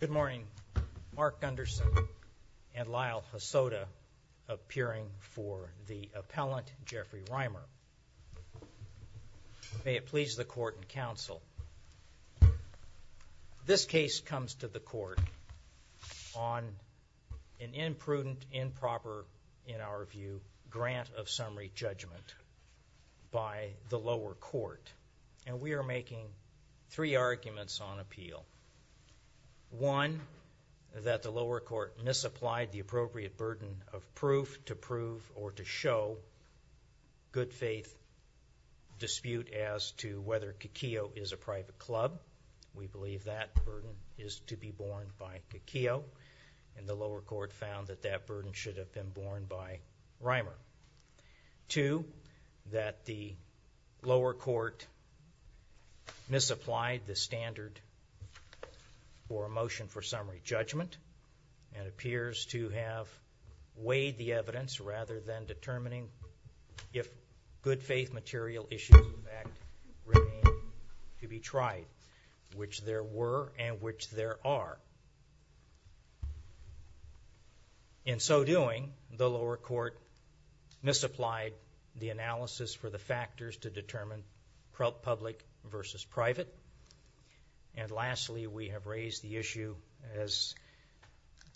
Good morning. Mark Gunderson and Lyle Hosoda appearing for the appellant Jeffrey Reimer. May it please the court and counsel. This case comes to the court on an imprudent, improper, in our view, grant of summary judgment by the lower court. And we are making three arguments on appeal. One, that the lower court misapplied the appropriate burden of proof to prove or to show good faith dispute as to whether Kuki'o is a private club. We believe that burden is to be borne by Kuki'o and the lower court found that that burden should have been borne by Reimer. Two, that the lower court misapplied the standard for a motion for summary judgment and appears to have weighed the evidence rather than determining if good faith material issues in fact remain to be tried, which there were and which there are. In so doing, the lower court misapplied the analysis for the factors to determine public versus private. And lastly, we have raised the issue as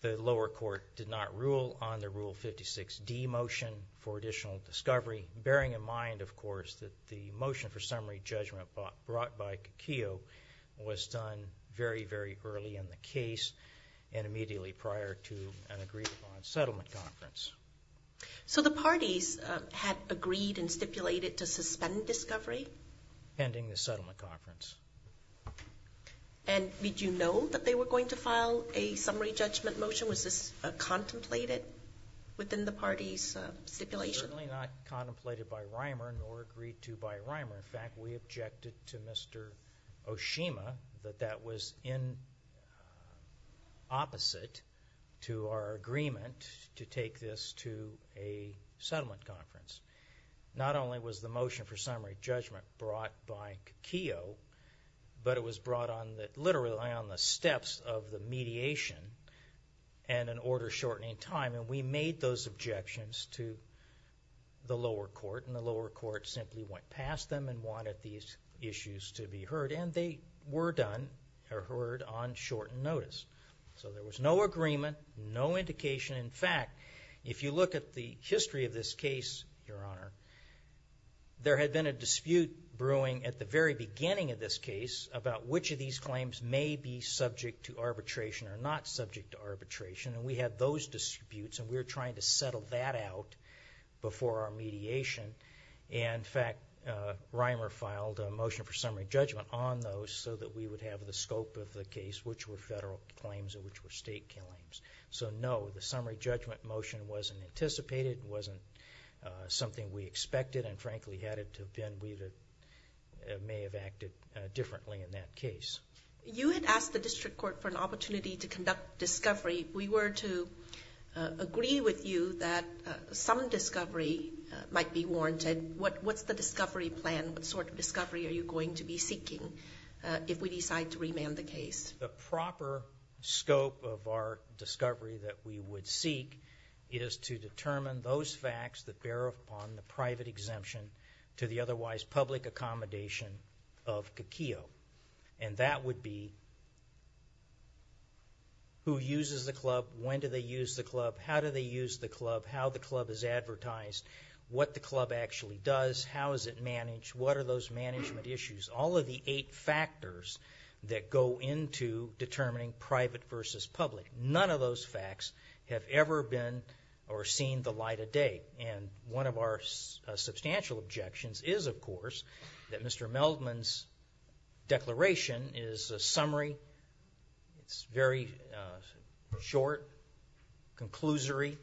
the lower court did not rule on the Rule 56D motion for additional discovery, bearing in mind, of course, that the motion for summary judgment brought by Kuki'o was done very, very early in the case and immediately prior to an agreed-upon settlement conference. So the parties had agreed and stipulated to suspend discovery? Pending the settlement conference. And did you know that they were going to file a summary judgment motion? Was this contemplated within the parties' stipulation? Certainly not contemplated by Reimer nor agreed to by Reimer. In fact, we objected to Mr. Oshima that that was in opposite to our agreement to take this to a settlement conference. Not only was the motion for summary judgment brought by Kuki'o, but it was brought literally on the steps of the mediation and an order-shortening time. And we made those objections to the lower court. And the lower court simply went past them and wanted these issues to be heard. And they were done or heard on shortened notice. So there was no agreement, no indication. In fact, if you look at the history of this case, Your Honor, there had been a dispute brewing at the very beginning of this case about which of these claims may be subject to arbitration or not subject to arbitration. And we had those disputes, and we were trying to settle that out before our mediation. And, in fact, Reimer filed a motion for summary judgment on those so that we would have the scope of the case, which were federal claims and which were state claims. So, no, the summary judgment motion wasn't anticipated. It wasn't something we expected and, frankly, had it to have been, we may have acted differently in that case. You had asked the district court for an opportunity to conduct discovery. If we were to agree with you that some discovery might be warranted, what's the discovery plan? What sort of discovery are you going to be seeking if we decide to remand the case? The proper scope of our discovery that we would seek is to determine those facts that bear upon the private exemption to the otherwise public accommodation of Kikio. And that would be who uses the club, when do they use the club, how do they use the club, how the club is advertised, what the club actually does, how is it managed, what are those management issues, all of the eight factors that go into determining private versus public. None of those facts have ever been or seen the light of day. And one of our substantial objections is, of course, that Mr. Meldman's declaration is a summary. It's very short, conclusory,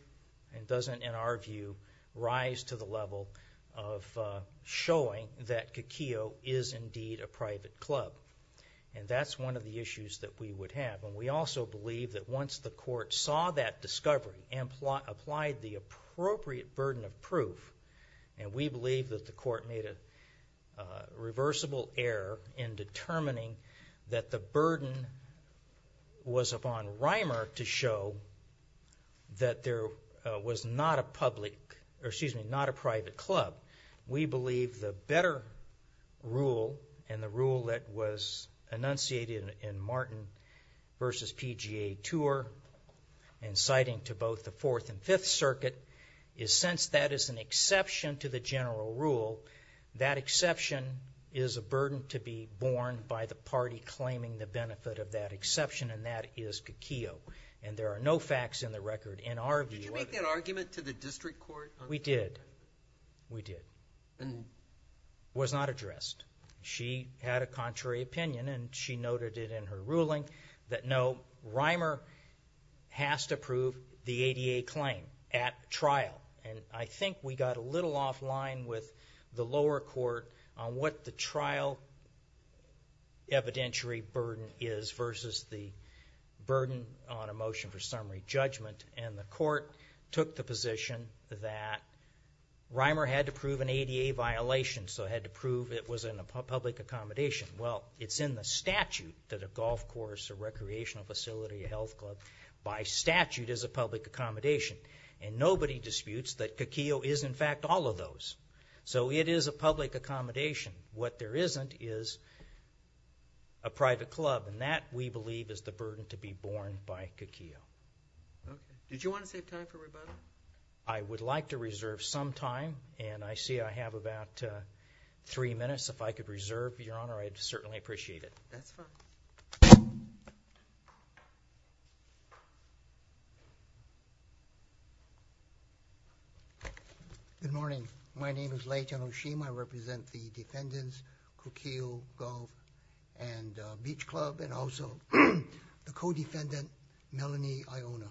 and doesn't, in our view, rise to the level of showing that Kikio is indeed a private club. And that's one of the issues that we would have. We also believe that once the court saw that discovery and applied the appropriate burden of proof, and we believe that the court made a reversible error in determining that the burden was upon Reimer to show that there was not a public, or excuse me, not a private club. We believe the better rule, and the rule that was enunciated in Martin v. PGA Tour, and citing to both the Fourth and Fifth Circuit, is since that is an exception to the general rule, that exception is a burden to be borne by the party claiming the benefit of that exception, and that is Kikio. And there are no facts in the record, in our view. Did you make that argument to the district court? We did. We did. It was not addressed. She had a contrary opinion, and she noted it in her ruling, that no, Reimer has to prove the ADA claim at trial. And I think we got a little off line with the lower court on what the trial evidentiary burden is versus the burden on a motion for summary judgment. And the court took the position that Reimer had to prove an ADA violation, so had to prove it was in a public accommodation. Well, it's in the statute that a golf course, a recreational facility, a health club, by statute is a public accommodation. And nobody disputes that Kikio is, in fact, all of those. So it is a public accommodation. What there isn't is a private club, and that, we believe, is the burden to be borne by Kikio. Did you want to save time for rebuttal? I would like to reserve some time, and I see I have about three minutes. If I could reserve, Your Honor, I'd certainly appreciate it. That's fine. Good morning. My name is Leighton Oshima. I represent the defendants, Kikio Golf and Beach Club, and also the co-defendant, Melanie Iona.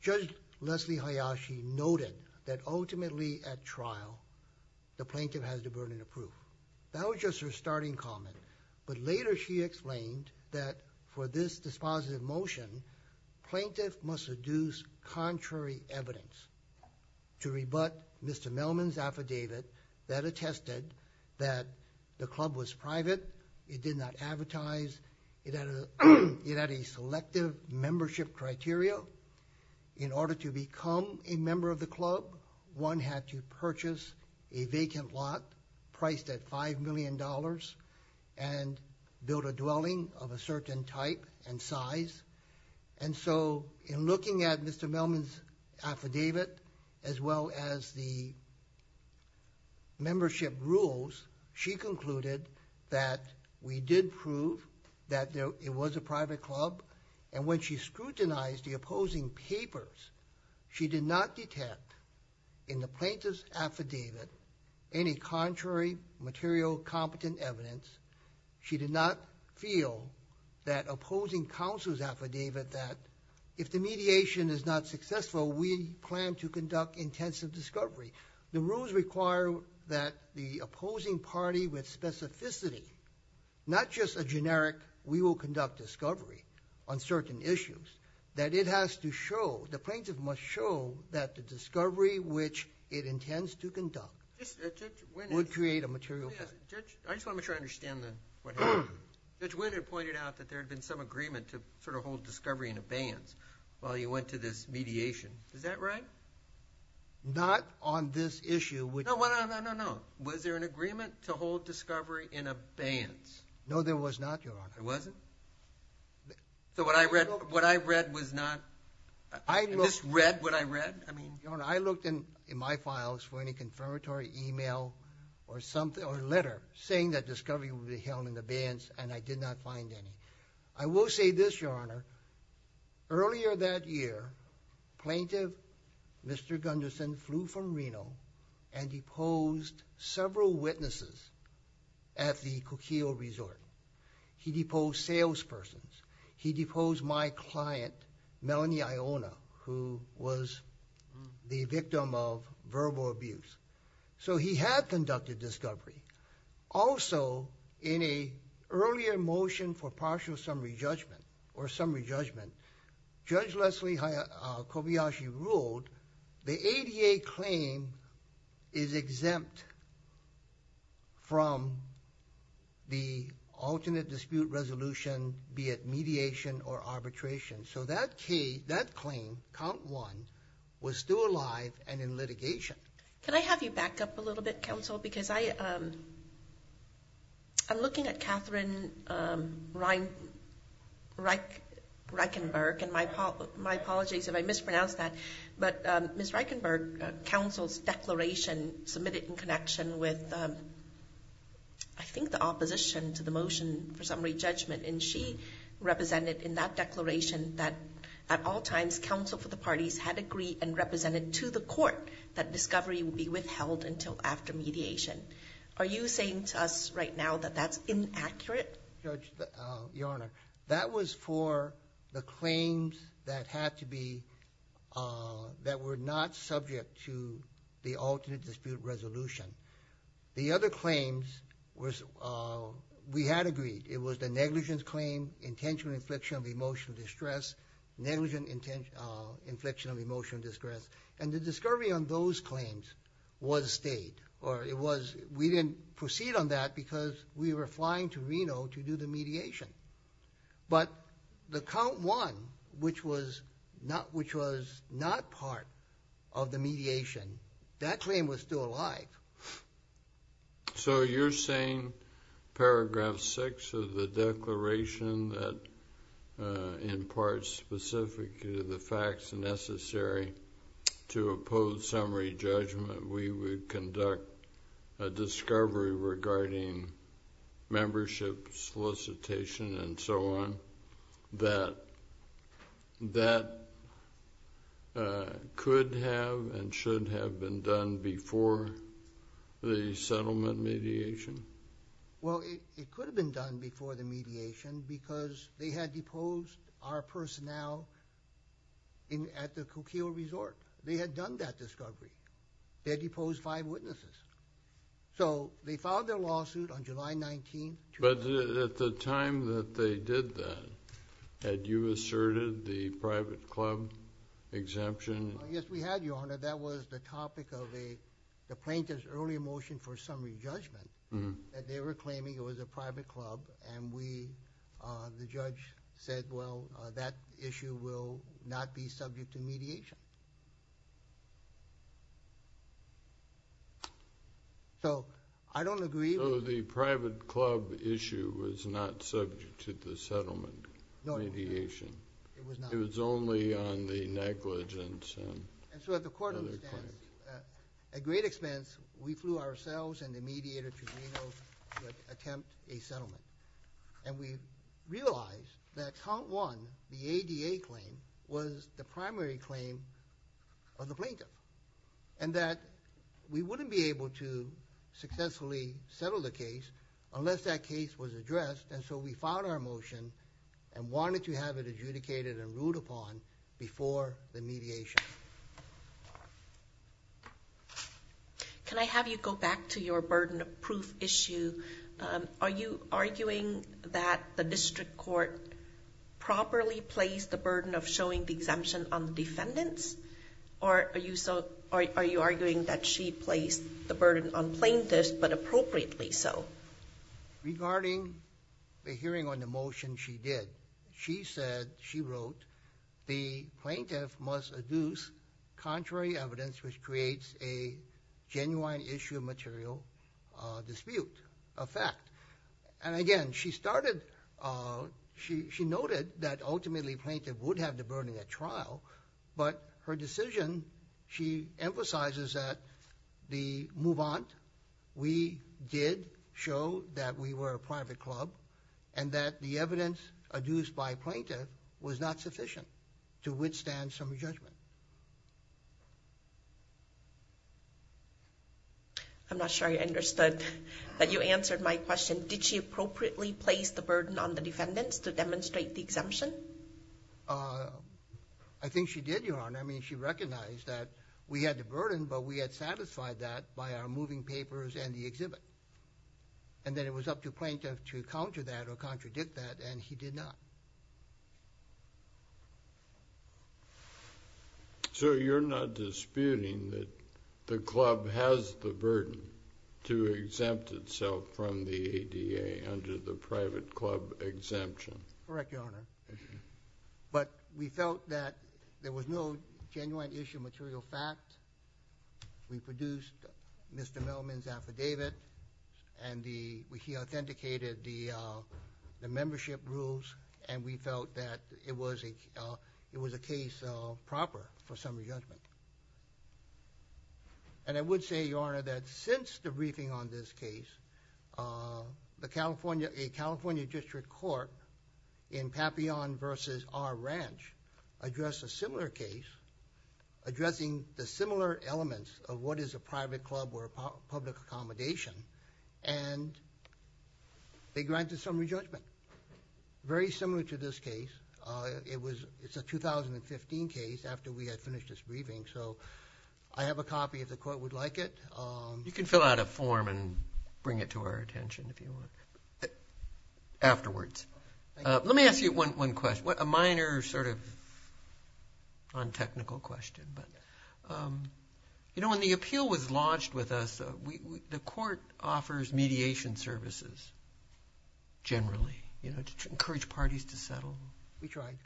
Judge Leslie Hayashi noted that ultimately at trial, the plaintiff has the burden of proof. That was just her starting comment. But later she explained that for this dispositive motion, plaintiff must seduce contrary evidence to rebut Mr. Melman's affidavit that attested that the club was private, it did not advertise, it had a selective membership criteria. In order to become a member of the club, one had to purchase a vacant lot priced at $5 million and build a dwelling of a certain type and size. And so in looking at Mr. Melman's affidavit, as well as the membership rules, she concluded that we did prove that it was a private club. And when she scrutinized the opposing papers, she did not detect in the plaintiff's affidavit any contrary material competent evidence. She did not feel that opposing counsel's affidavit that if the mediation is not successful, we plan to conduct intensive discovery. The rules require that the opposing party with specificity, not just a generic we will conduct discovery on certain issues, that it has to show, the plaintiff must show that the discovery which it intends to conduct would create a material penalty. I just want to make sure I understand what happened. Judge Wynne had pointed out that there had been some agreement to sort of hold discovery in abeyance while you went to this mediation. Is that right? Not on this issue. No, no, no, no, no, no. Was there an agreement to hold discovery in abeyance? No, there was not, Your Honor. There wasn't? So what I read was not? I just read what I read? Your Honor, I looked in my files for any confirmatory email or letter saying that discovery would be held in abeyance, and I did not find any. I will say this, Your Honor. Earlier that year, Plaintiff Mr. Gunderson flew from Reno and deposed several witnesses at the Coquille Resort. He deposed salespersons. He deposed my client, Melanie Iona, who was the victim of verbal abuse. So he had conducted discovery. Also, in an earlier motion for partial summary judgment or summary judgment, Judge Leslie Kobayashi ruled the ADA claim is exempt from the alternate dispute resolution, be it mediation or arbitration. So that claim, count one, was still alive and in litigation. Can I have you back up a little bit, Counsel? Because I'm looking at Katherine Reichenberg, and my apologies if I mispronounce that. But Ms. Reichenberg, Counsel's declaration submitted in connection with, I think, the opposition to the motion for summary judgment, and she represented in that declaration that at all times Counsel for the Parties had agreed and represented to the court that discovery would be withheld until after mediation. Are you saying to us right now that that's inaccurate? Judge, Your Honor, that was for the claims that were not subject to the alternate dispute resolution. The other claims, we had agreed. It was the negligence claim, intentional infliction of emotional distress, negligent infliction of emotional distress, and the discovery on those claims was stayed. We didn't proceed on that because we were flying to Reno to do the mediation. But the count one, which was not part of the mediation, that claim was still alive. So you're saying, paragraph 6 of the declaration, that in part specific to the facts necessary to oppose summary judgment, we would conduct a discovery regarding membership solicitation and so on, that that could have and should have been done before the settlement mediation? Well, it could have been done before the mediation because they had deposed our personnel at the Coquille Resort. They had done that discovery. They had deposed five witnesses. So they filed their lawsuit on July 19. But at the time that they did that, had you asserted the private club exemption? Yes, we had, Your Honor. That was the topic of the plaintiff's early motion for summary judgment. They were claiming it was a private club, and the judge said, well, that issue will not be subject to mediation. So I don't agree. So the private club issue was not subject to the settlement mediation. No, it was not. It was only on the negligence and other claims. And so at the court understand, at great expense, we flew ourselves and the mediator to Reno to attempt a settlement. And we realized that count one, the ADA claim, was the primary claim of the plaintiff and that we wouldn't be able to successfully settle the case unless that case was addressed. And so we filed our motion and wanted to have it adjudicated and ruled upon before the mediation. Can I have you go back to your burden of proof issue? Are you arguing that the district court properly placed the burden of showing the exemption on the defendants? Or are you arguing that she placed the burden on plaintiffs, but appropriately so? Regarding the hearing on the motion she did, she said, she wrote, the plaintiff must adduce contrary evidence which creates a genuine issue of material dispute effect. And again, she noted that ultimately plaintiff would have the burden at trial, but her decision, she emphasizes that the move on, we did show that we were a private club and that the evidence adduced by plaintiff was not sufficient to withstand some judgment. I'm not sure I understood that you answered my question. Did she appropriately place the burden on the defendants to demonstrate the exemption? I think she did, Your Honor. I mean, she recognized that we had the burden, but we had satisfied that by our moving papers and the exhibit. And then it was up to plaintiff to counter that or contradict that, and he did not. So you're not disputing that the club has the burden to exempt itself from the ADA under the private club exemption? Correct, Your Honor. But we felt that there was no genuine issue of material fact. We produced Mr. Melman's affidavit, and he authenticated the membership rules, and we felt that it was a case proper for summary judgment. And I would say, Your Honor, that since the briefing on this case, a California district court in Papillon v. R. Ranch addressed a similar case, addressing the similar elements of what is a private club or a public accommodation, and they granted summary judgment, very similar to this case. It's a 2015 case after we had finished this briefing, so I have a copy if the court would like it. You can fill out a form and bring it to our attention if you want afterwards. Let me ask you one question, a minor sort of non-technical question. You know, when the appeal was lodged with us, the court offers mediation services generally, you know, to encourage parties to settle. We tried.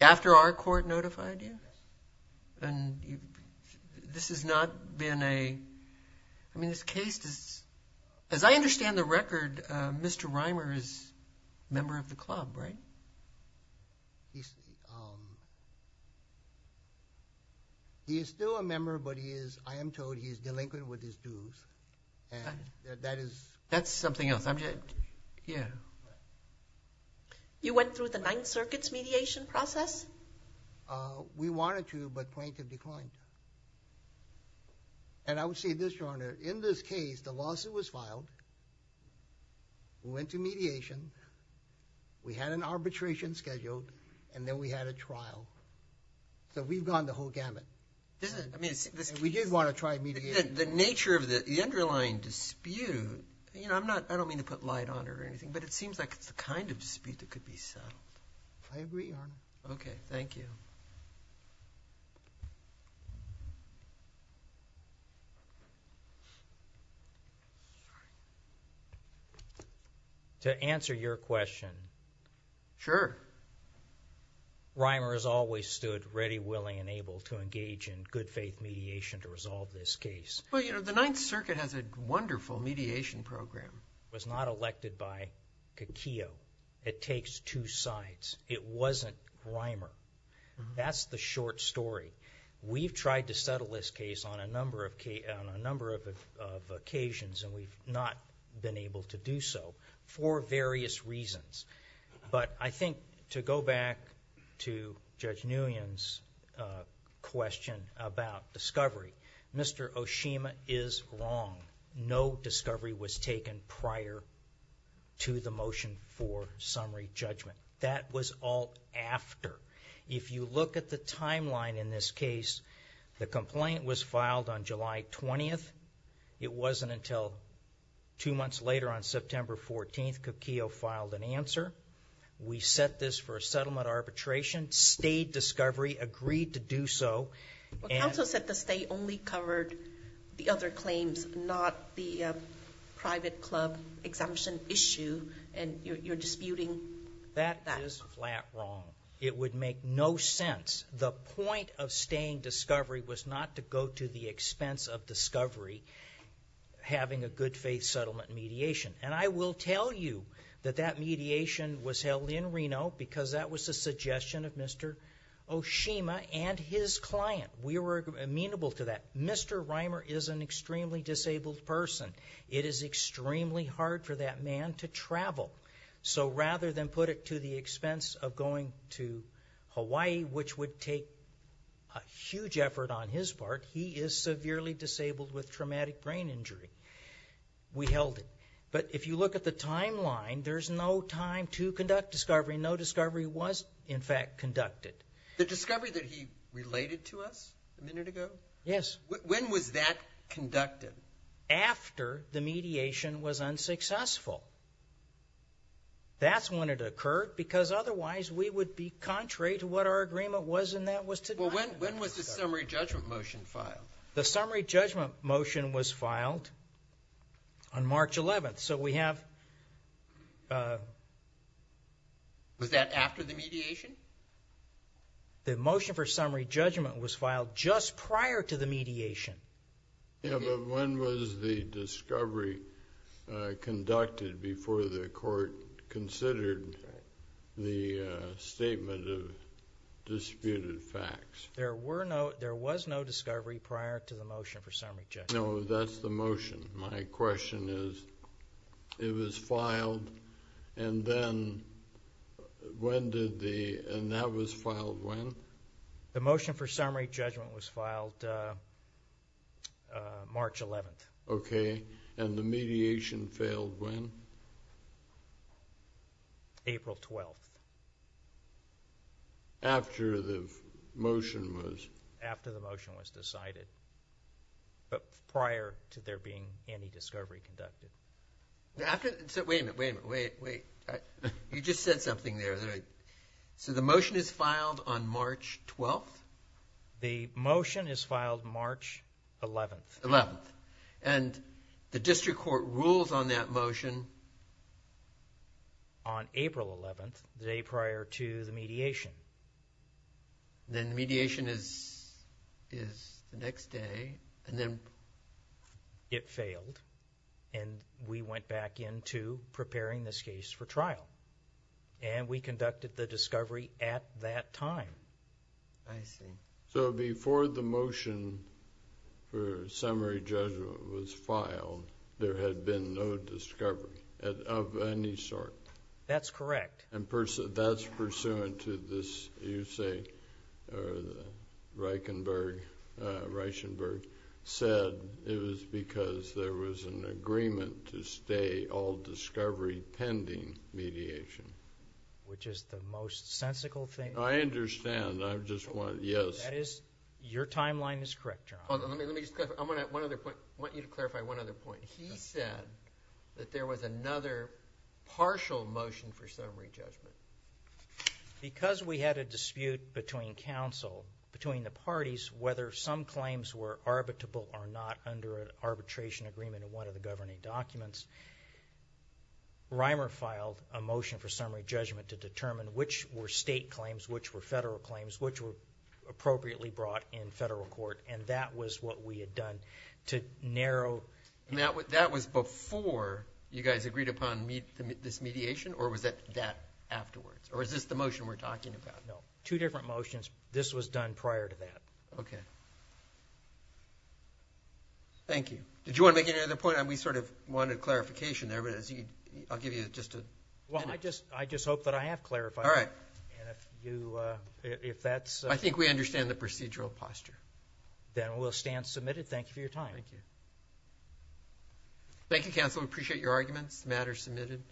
After our court notified you? Yes. And this has not been a – I mean, this case does – as I understand the record, Mr. Reimer is a member of the club, right? He is still a member, but he is – I am told he is delinquent with his dues, and that is – You went through the Ninth Circuit's mediation process? We wanted to, but plaintiff declined. And I would say this, Your Honor. In this case, the lawsuit was filed. We went to mediation. We had an arbitration scheduled, and then we had a trial. So we've gone the whole gamut. We did want to try mediation. The nature of the underlying dispute – you know, I'm not – but it seems like it's the kind of dispute that could be settled. I agree, Your Honor. Okay. Thank you. To answer your question. Sure. Reimer has always stood ready, willing, and able to engage in good-faith mediation to resolve this case. Well, you know, the Ninth Circuit has a wonderful mediation program. It was not elected by Kikio. It takes two sides. It wasn't Reimer. That's the short story. We've tried to settle this case on a number of occasions, and we've not been able to do so for various reasons. But I think to go back to Judge Nguyen's question about discovery, Mr. Oshima is wrong. No discovery was taken prior to the motion for summary judgment. That was all after. If you look at the timeline in this case, the complaint was filed on July 20th. It wasn't until two months later on September 14th that Kikio filed an answer. We set this for a settlement arbitration. State discovery agreed to do so. Counsel said the state only covered the other claims, not the private club exemption issue, and you're disputing that. That is flat wrong. It would make no sense. The point of staying discovery was not to go to the expense of discovery, having a good-faith settlement mediation. No, because that was the suggestion of Mr. Oshima and his client. We were amenable to that. Mr. Reimer is an extremely disabled person. It is extremely hard for that man to travel. So rather than put it to the expense of going to Hawaii, which would take a huge effort on his part, he is severely disabled with traumatic brain injury. We held it. But if you look at the timeline, there's no time to conduct discovery. No discovery was, in fact, conducted. The discovery that he related to us a minute ago? Yes. When was that conducted? After the mediation was unsuccessful. That's when it occurred because otherwise we would be contrary to what our agreement was and that was today. Well, when was the summary judgment motion filed? The summary judgment motion was filed on March 11th. So we have ---- Was that after the mediation? The motion for summary judgment was filed just prior to the mediation. Yes, but when was the discovery conducted before the court considered the statement of disputed facts? There was no discovery prior to the motion for summary judgment. No, that's the motion. My question is it was filed and then when did the ---- and that was filed when? The motion for summary judgment was filed March 11th. Okay. And the mediation failed when? April 12th. After the motion was ---- After the motion was decided but prior to there being any discovery conducted. Wait a minute, wait a minute, wait, wait. You just said something there that I ---- So the motion is filed on March 12th? The motion is filed March 11th. 11th. And the district court rules on that motion? On April 11th, the day prior to the mediation. Then mediation is the next day and then ---- It failed and we went back into preparing this case for trial and we conducted the discovery at that time. I see. So before the motion for summary judgment was filed, there had been no discovery of any sort? That's correct. And that's pursuant to this, you say, Reichenberg said it was because there was an agreement to stay all discovery pending mediation. Which is the most sensical thing. I understand. I just want to, yes. Your timeline is correct, John. Let me just clarify. I want you to clarify one other point. He said that there was another partial motion for summary judgment. Because we had a dispute between counsel, between the parties, whether some claims were arbitrable or not under an arbitration agreement in one of the governing documents, Reimer filed a motion for summary judgment to determine which were state claims, which were federal claims, which were appropriately brought in federal court and that was what we had done to narrow. That was before you guys agreed upon this mediation or was that afterwards? Or is this the motion we're talking about? No. Two different motions. This was done prior to that. Okay. Thank you. Did you want to make any other point? We sort of wanted clarification there, but I'll give you just a minute. Well, I just hope that I have clarified. All right. I think we understand the procedural posture. Then we'll stand submitted. Thank you for your time. Thank you. Thank you, counsel. We appreciate your arguments. The matter is submitted.